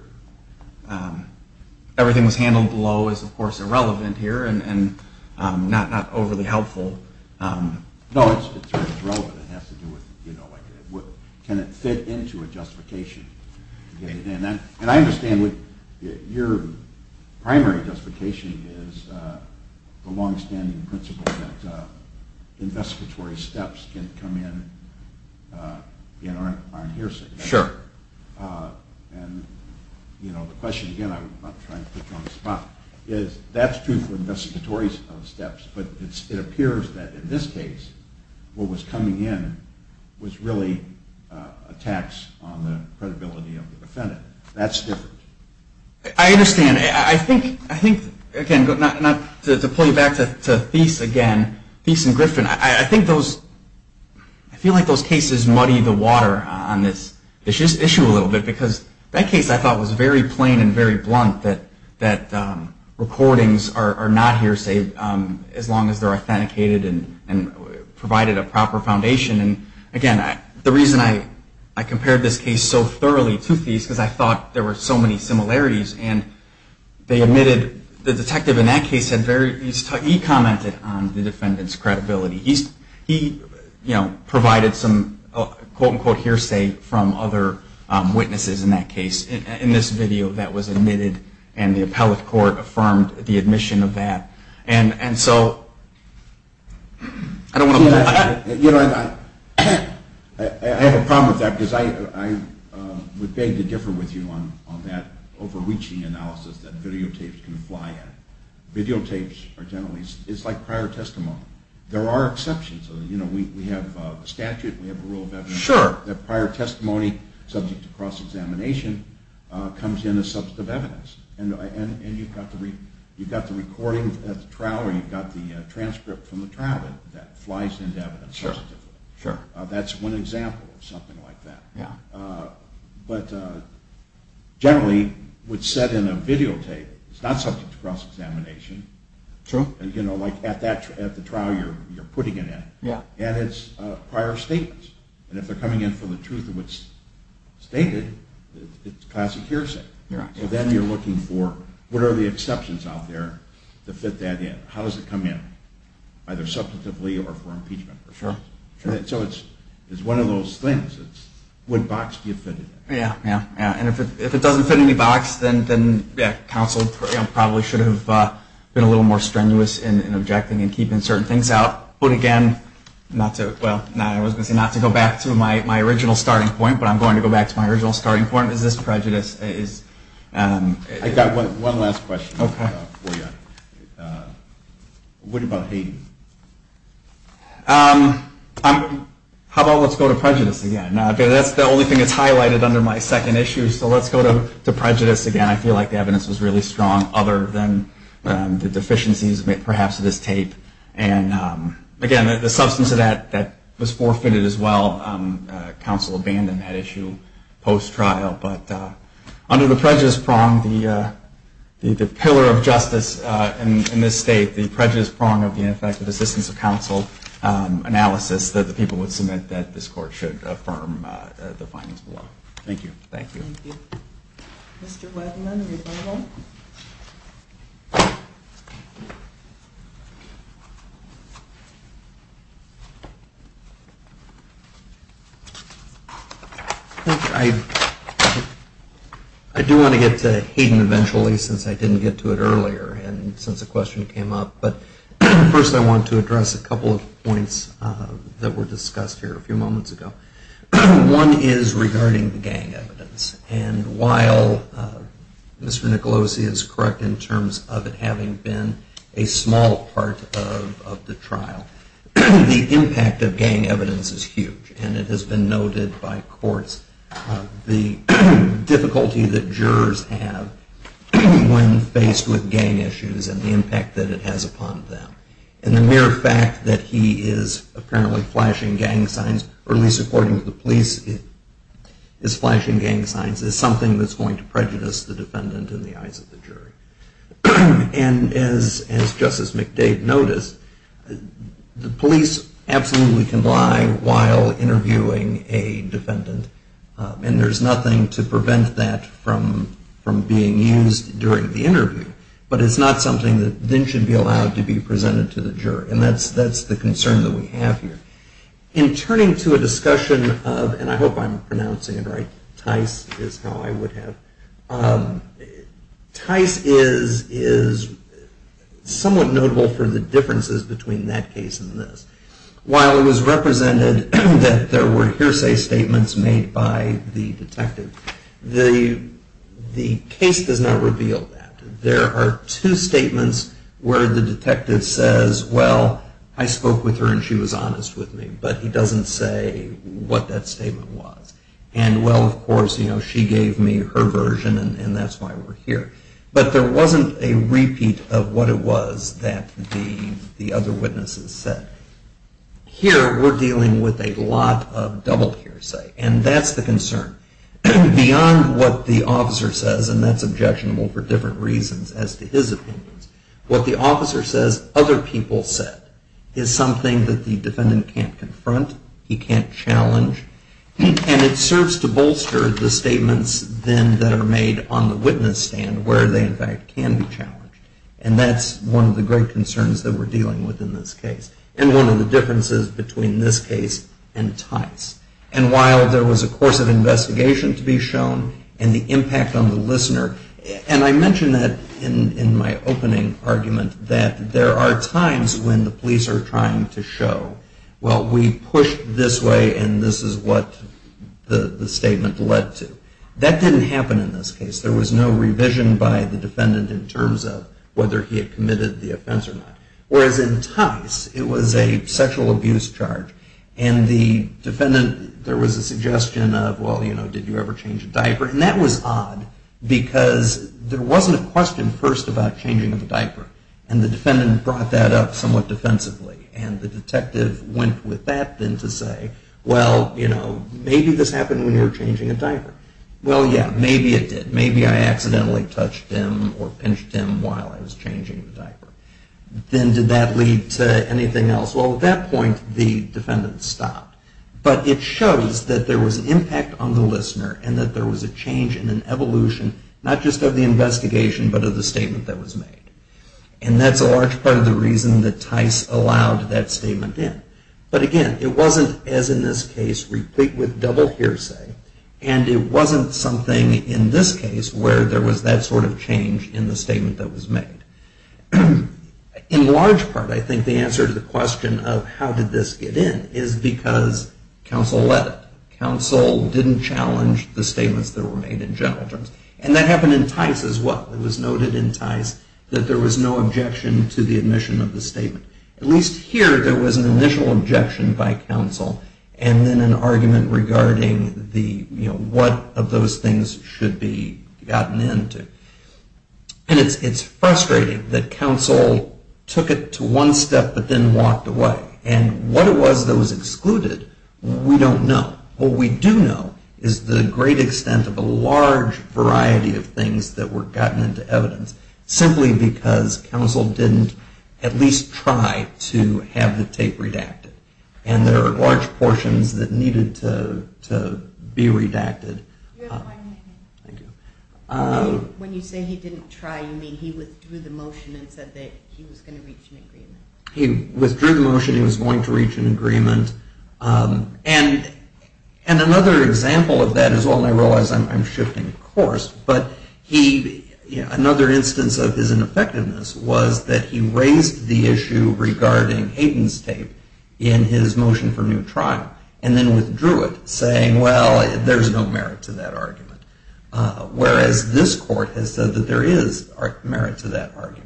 everything was handled below is, of course, irrelevant here and not overly helpful. No, it's relevant. Can it fit into a justification? And I understand your primary justification is the longstanding principle that investigatory steps can come in on hearsay. Sure. And the question, again, I'm not trying to put you on the spot, is that's true for investigatory steps, but it appears that in this case what was coming in was really a tax on the credibility of the defendant. That's different. I understand. I think, again, not to pull you back to Thies again, Thies and Griffin, I feel like those cases muddy the water on this issue a little bit because that case I thought was very plain and very blunt that recordings are not hearsay as long as they're authenticated and provided a proper foundation. And, again, the reason I compared this case so thoroughly to Thies is because I thought there were so many similarities. And they admitted the detective in that case had very, he commented on the defendant's credibility. He provided some quote, unquote, hearsay from other witnesses in that case in this video that was admitted, and the appellate court affirmed the admission of that. And so I don't want to pull back. You know, I have a problem with that because I would beg to differ with you on that overreaching analysis that videotapes can fly at. Videotapes are generally, it's like prior testimony. There are exceptions. You know, we have a statute, we have a rule of evidence. Sure. That prior testimony subject to cross-examination comes in as subject of evidence. And you've got the recording at the trial or you've got the transcript from the trial that flies into evidence. Sure, sure. That's one example of something like that. Yeah. But generally what's said in a videotape is not subject to cross-examination. True. And, you know, like at the trial you're putting it in. Yeah. And it's prior statements. And if they're coming in for the truth of what's stated, it's classic hearsay. Right. So then you're looking for what are the exceptions out there to fit that in. How does it come in? Either substantively or for impeachment. Sure, sure. So it's one of those things. It's what box do you fit it in? Yeah, yeah, yeah. And if it doesn't fit any box, then counsel probably should have been a little more strenuous in objecting and keeping certain things out. But again, not to go back to my original starting point, but I'm going to go back to my original starting point. Is this prejudice? I've got one last question for you. Okay. What about Hayden? How about let's go to prejudice again? That's the only thing that's highlighted under my second issue. So let's go to prejudice again. I feel like the evidence was really strong other than the deficiencies perhaps of this tape. And again, the substance of that was forfeited as well. Counsel abandoned that issue post-trial. But under the prejudice prong, the pillar of justice in this state, the prejudice prong of the ineffective assistance of counsel analysis that the people would submit that this court should affirm the findings below. Thank you. Thank you. Thank you. Mr. Weidman, are you available? I do want to get to Hayden eventually since I didn't get to it earlier and since the question came up. But first I want to address a couple of points that were discussed here a few moments ago. One is regarding the gang evidence. And while Mr. Nicolosi is correct in terms of it having been a small part of the trial, the impact of gang evidence is huge. And it has been noted by courts the difficulty that jurors have when faced with gang issues and the impact that it has upon them. And the mere fact that he is apparently flashing gang signs, or at least according to the police, is flashing gang signs, is something that's going to prejudice the defendant in the eyes of the jury. And as Justice McDade noticed, the police absolutely can lie while interviewing a defendant. And there's nothing to prevent that from being used during the interview. But it's not something that then should be allowed to be presented to the jury. And that's the concern that we have here. In turning to a discussion of, and I hope I'm pronouncing it right, Tice is how I would have, Tice is somewhat notable for the differences between that case and this. While it was represented that there were hearsay statements made by the jury, there are two statements where the detective says, well, I spoke with her and she was honest with me. But he doesn't say what that statement was. And, well, of course, she gave me her version and that's why we're here. But there wasn't a repeat of what it was that the other witnesses said. Here we're dealing with a lot of double hearsay. And that's the concern. Beyond what the officer says, and that's objectionable for different reasons as to his opinions, what the officer says other people said is something that the defendant can't confront. He can't challenge. And it serves to bolster the statements then that are made on the witness stand where they, in fact, can be challenged. And that's one of the great concerns that we're dealing with in this case. And one of the differences between this case and Tice. And while there was a course of investigation to be shown and the impact on the listener, and I mentioned that in my opening argument that there are times when the police are trying to show, well, we pushed this way and this is what the statement led to. That didn't happen in this case. There was no revision by the defendant in terms of whether he had committed the offense or not. Whereas in Tice, it was a sexual abuse charge. And the defendant, there was a suggestion of, well, you know, did you ever change a diaper? And that was odd because there wasn't a question first about changing the diaper. And the defendant brought that up somewhat defensively. And the detective went with that then to say, well, you know, maybe this happened when you were changing a diaper. Well, yeah, maybe it did. Maybe I accidentally touched him or pinched him while I was changing the diaper. Then did that lead to anything else? Well, at that point, the defendant stopped. But it shows that there was an impact on the listener and that there was a change and an evolution, not just of the investigation but of the statement that was made. And that's a large part of the reason that Tice allowed that statement in. But again, it wasn't, as in this case, replete with double hearsay. And it wasn't something in this case where there was that sort of change in the statement that was made. In large part, I think the answer to the question of how did this get in is because counsel let it. Counsel didn't challenge the statements that were made in general terms. And that happened in Tice as well. It was noted in Tice that there was no objection to the admission of the statement. At least here, there was an initial objection by counsel and then an argument regarding the, you know, what of those things should be gotten into. And it's frustrating that counsel took it to one step but then walked away. And what it was that was excluded, we don't know. What we do know is the great extent of a large variety of things that were gotten into evidence simply because counsel didn't at least try to have the tape redacted. And there are large portions that needed to be redacted. Thank you. When you say he didn't try, you mean he withdrew the motion and said that he was going to reach an agreement? He withdrew the motion. He was going to reach an agreement. And another example of that as well, and I realize I'm shifting course, but he, you know, another instance of his ineffectiveness was that he raised the issue regarding Hayden's tape in his motion for new trial and then withdrew it saying, well, there's no merit to that argument. Whereas this court has said that there is merit to that argument.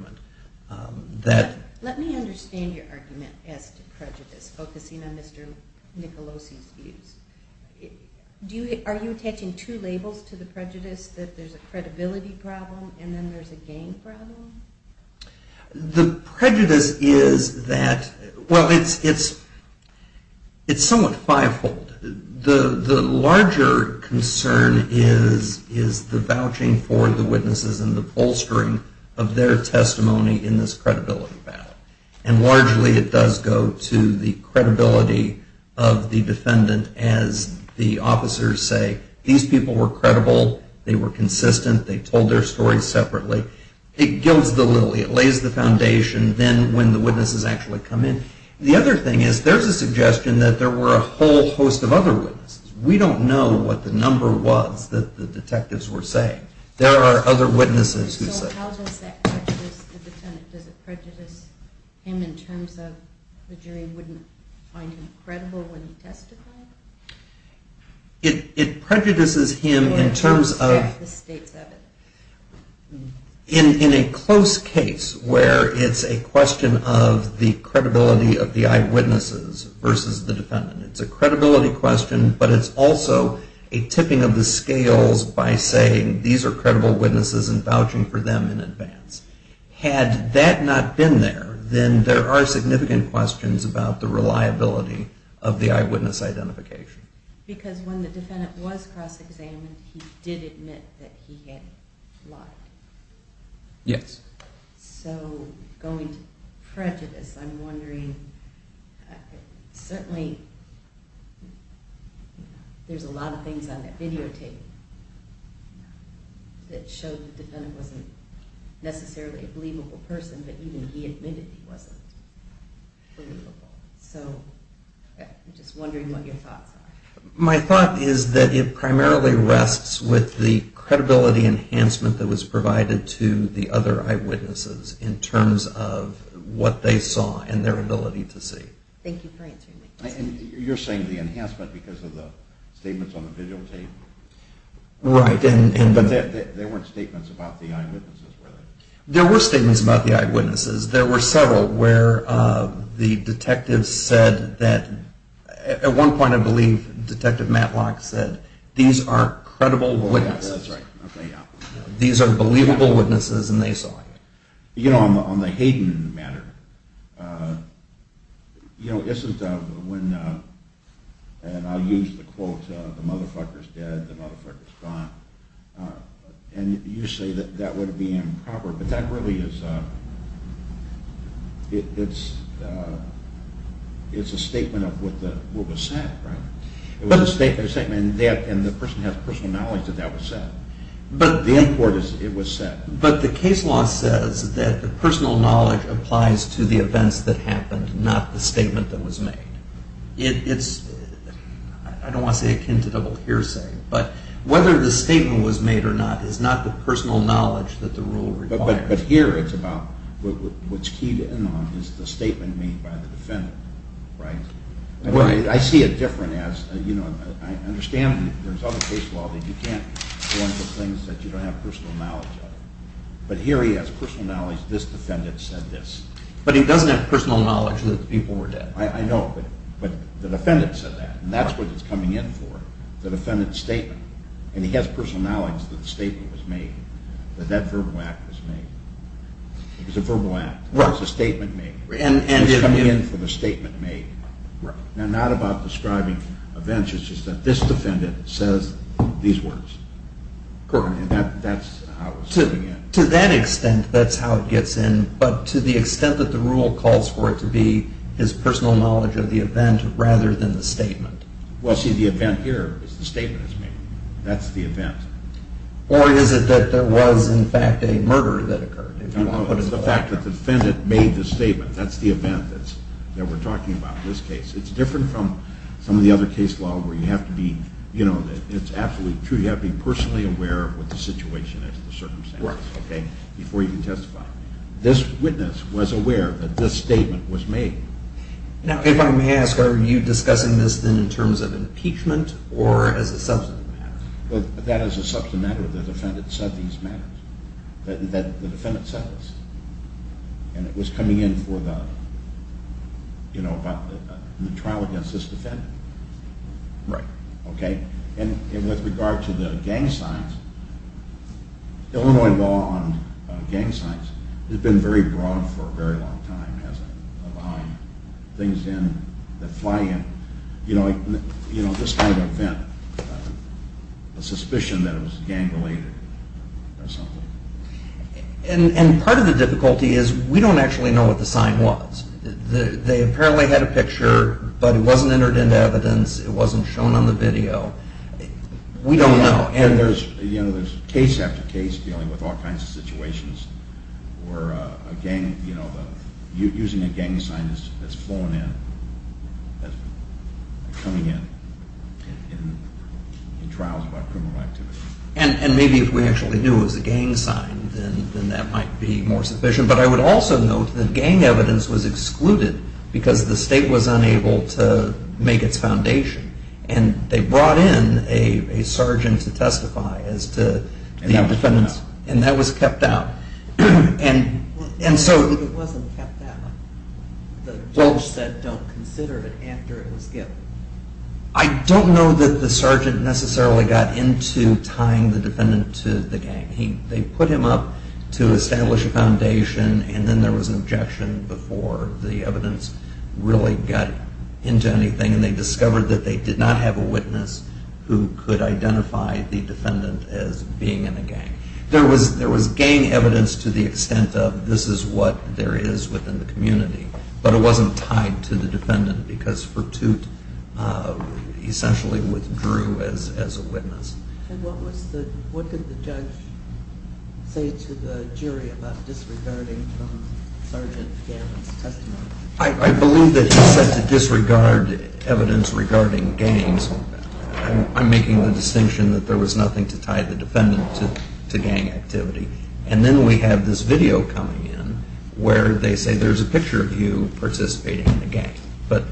Let me understand your argument as to prejudice, focusing on Mr. Nicolosi's views. Are you attaching two labels to the prejudice, that there's a credibility problem and then there's a gain problem? The prejudice is that, well, it's somewhat five-fold. The larger concern is the vouching for the witnesses and the bolstering of their testimony in this credibility battle. And largely it does go to the credibility of the defendant as the officers say, these people were credible, they were consistent, they told their stories separately. It gilds the lily, it lays the foundation then when the witnesses actually come in. The other thing is there's a suggestion that there were a whole host of other witnesses. We don't know what the number was that the detectives were saying. There are other witnesses who say. So how does that prejudice the defendant? Does it prejudice him in terms of the jury wouldn't find him credible when he testified? It prejudices him in terms of, in a close case where it's a question of the credibility of the eyewitnesses versus the defendant. It's a credibility question, but it's also a tipping of the scales by saying, these are credible witnesses and vouching for them in advance. Had that not been there, then there are significant questions about the application. Because when the defendant was cross-examined, he did admit that he had lied. Yes. So going to prejudice, I'm wondering, certainly there's a lot of things on that videotape that show the defendant wasn't necessarily a believable person, but even he admitted he wasn't believable. So I'm just wondering what your thoughts are. My thought is that it primarily rests with the credibility enhancement that was provided to the other eyewitnesses in terms of what they saw and their ability to see. Thank you for answering my question. You're saying the enhancement because of the statements on the videotape? Right. But there weren't statements about the eyewitnesses, were there? There were statements about the eyewitnesses. There were several where the detective said that at one point, I believe, Detective Matlock said, these are credible witnesses. That's right. Okay, yeah. These are believable witnesses and they saw it. You know, on the Hayden matter, you know, isn't when, and I'll use the quote, the motherfucker's dead, the motherfucker's gone, and you say that that would be improper, but that really is, it's a statement of what was said, right? It was a statement and the person has personal knowledge that that was said. The import is it was said. But the case law says that the personal knowledge applies to the events that happened, not the statement that was made. It's, I don't want to say akin to double hearsay, but whether the statement was made or not is not the personal knowledge that the rule requires. But here it's about what's keyed in on is the statement made by the defendant, right? Well, I see it different as, you know, I understand there's other case law that you can't point to things that you don't have personal knowledge of. But here he has personal knowledge, this defendant said this. But he doesn't have personal knowledge that the people were dead. I know, but the defendant said that and that's what it's coming in for, the defendant's statement. And he has personal knowledge that the statement was made, that that verbal act was made. It was a verbal act. It was a statement made. It's coming in for the statement made. Now, not about describing events. It's just that this defendant says these words. And that's how it's coming in. To that extent, that's how it gets in. But to the extent that the rule calls for it to be his personal knowledge of the event rather than the statement. Well, see, the event here is the statement is made. That's the event. Or is it that there was, in fact, a murder that occurred? No, no, it's the fact that the defendant made the statement. That's the event that we're talking about in this case. It's different from some of the other case law where you have to be, you know, it's absolutely true. You have to be personally aware of what the situation is, the circumstances, okay, before you can testify. This witness was aware that this statement was made. Now, if I may ask, are you discussing this then in terms of impeachment or as a substantive matter? That is a substantive matter. The defendant said these matters. The defendant said this. And it was coming in for the, you know, in the trial against this defendant. Right. Okay? And with regard to the gang signs, Illinois law on gang signs has been very broad for a very long time, has a lot of things in that fly in, you know, this kind of event, a suspicion that it was gang related or something. And part of the difficulty is we don't actually know what the sign was. They apparently had a picture, but it wasn't entered into evidence. It wasn't shown on the video. We don't know. And, you know, there's case after case dealing with all kinds of situations where a gang, you know, using a gang sign that's flown in, coming in in trials about criminal activity. And maybe if we actually knew it was a gang sign, then that might be more sufficient. But I would also note that gang evidence was excluded because the state was unable to make its foundation. And they brought in a sergeant to testify as to the defendants. And that was kept out. It wasn't kept out. The judge said don't consider it after it was given. I don't know that the sergeant necessarily got into tying the defendant to the gang. They put him up to establish a foundation, and then there was an objection before the evidence really got into anything. And they discovered that they did not have a witness who could identify the defendant as being in a gang. There was gang evidence to the extent of this is what there is within the community, but it wasn't tied to the defendant because Furtute essentially withdrew as a witness. And what did the judge say to the jury about disregarding Sergeant Gavin's testimony? I believe that he said to disregard evidence regarding gangs. I'm making the distinction that there was nothing to tie the defendant to gang activity. And then we have this video coming in where they say there's a picture of you participating in a gang. But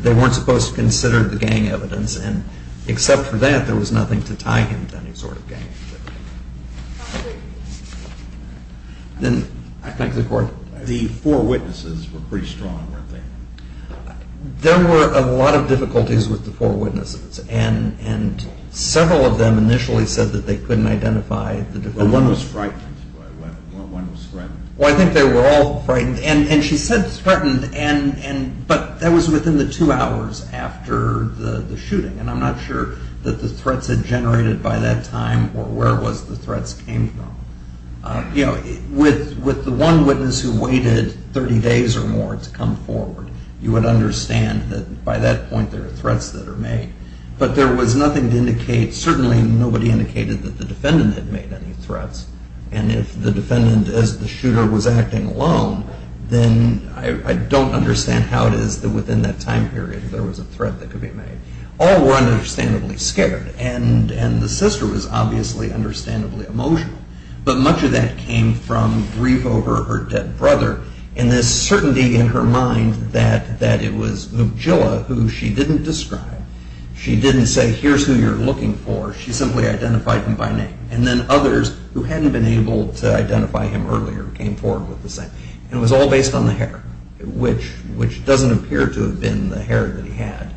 they weren't supposed to consider the gang evidence, and except for that there was nothing to tie him to any sort of gang activity. Then I thank the Court. The four witnesses were pretty strong, weren't they? There were a lot of difficulties with the four witnesses, and several of them initially said that they couldn't identify the defendant. Well, one was frightened. One was threatened. Well, I think they were all frightened, and she said threatened, but that was within the two hours after the shooting, and I'm not sure that the threats had generated by that time or where the threats came from. With the one witness who waited 30 days or more to come forward, you would understand that by that point there are threats that are made. But there was nothing to indicate, certainly nobody indicated that the defendant had made any threats, and if the defendant as the shooter was acting alone, then I don't understand how it is that within that time period there was a threat that could be made. All were understandably scared, and the sister was obviously understandably emotional. But much of that came from grief over her dead brother, and this certainty in her mind that it was Moogjilla who she didn't describe. She didn't say, here's who you're looking for. She simply identified him by name, and then others who hadn't been able to identify him earlier came forward with the same. It was all based on the hair, which doesn't appear to have been the hair that he had,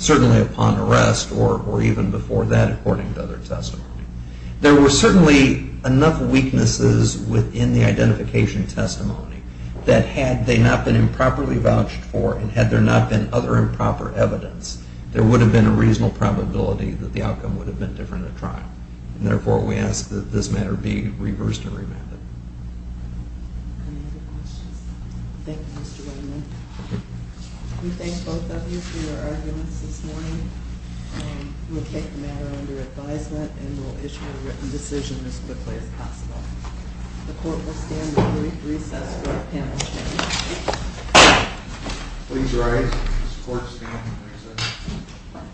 certainly upon arrest or even before that, according to other testimony. There were certainly enough weaknesses within the identification testimony that had they not been improperly vouched for, and had there not been other improper evidence, there would have been a reasonable probability that the outcome would have been different at trial. And therefore, we ask that this matter be reversed and remanded. Any other questions? Thank you, Mr. Weinman. We thank both of you for your arguments this morning. We'll take the matter under advisement and we'll issue a written decision as quickly as possible. The court will stand at recess for a panel statement. Please rise. This court stands at recess.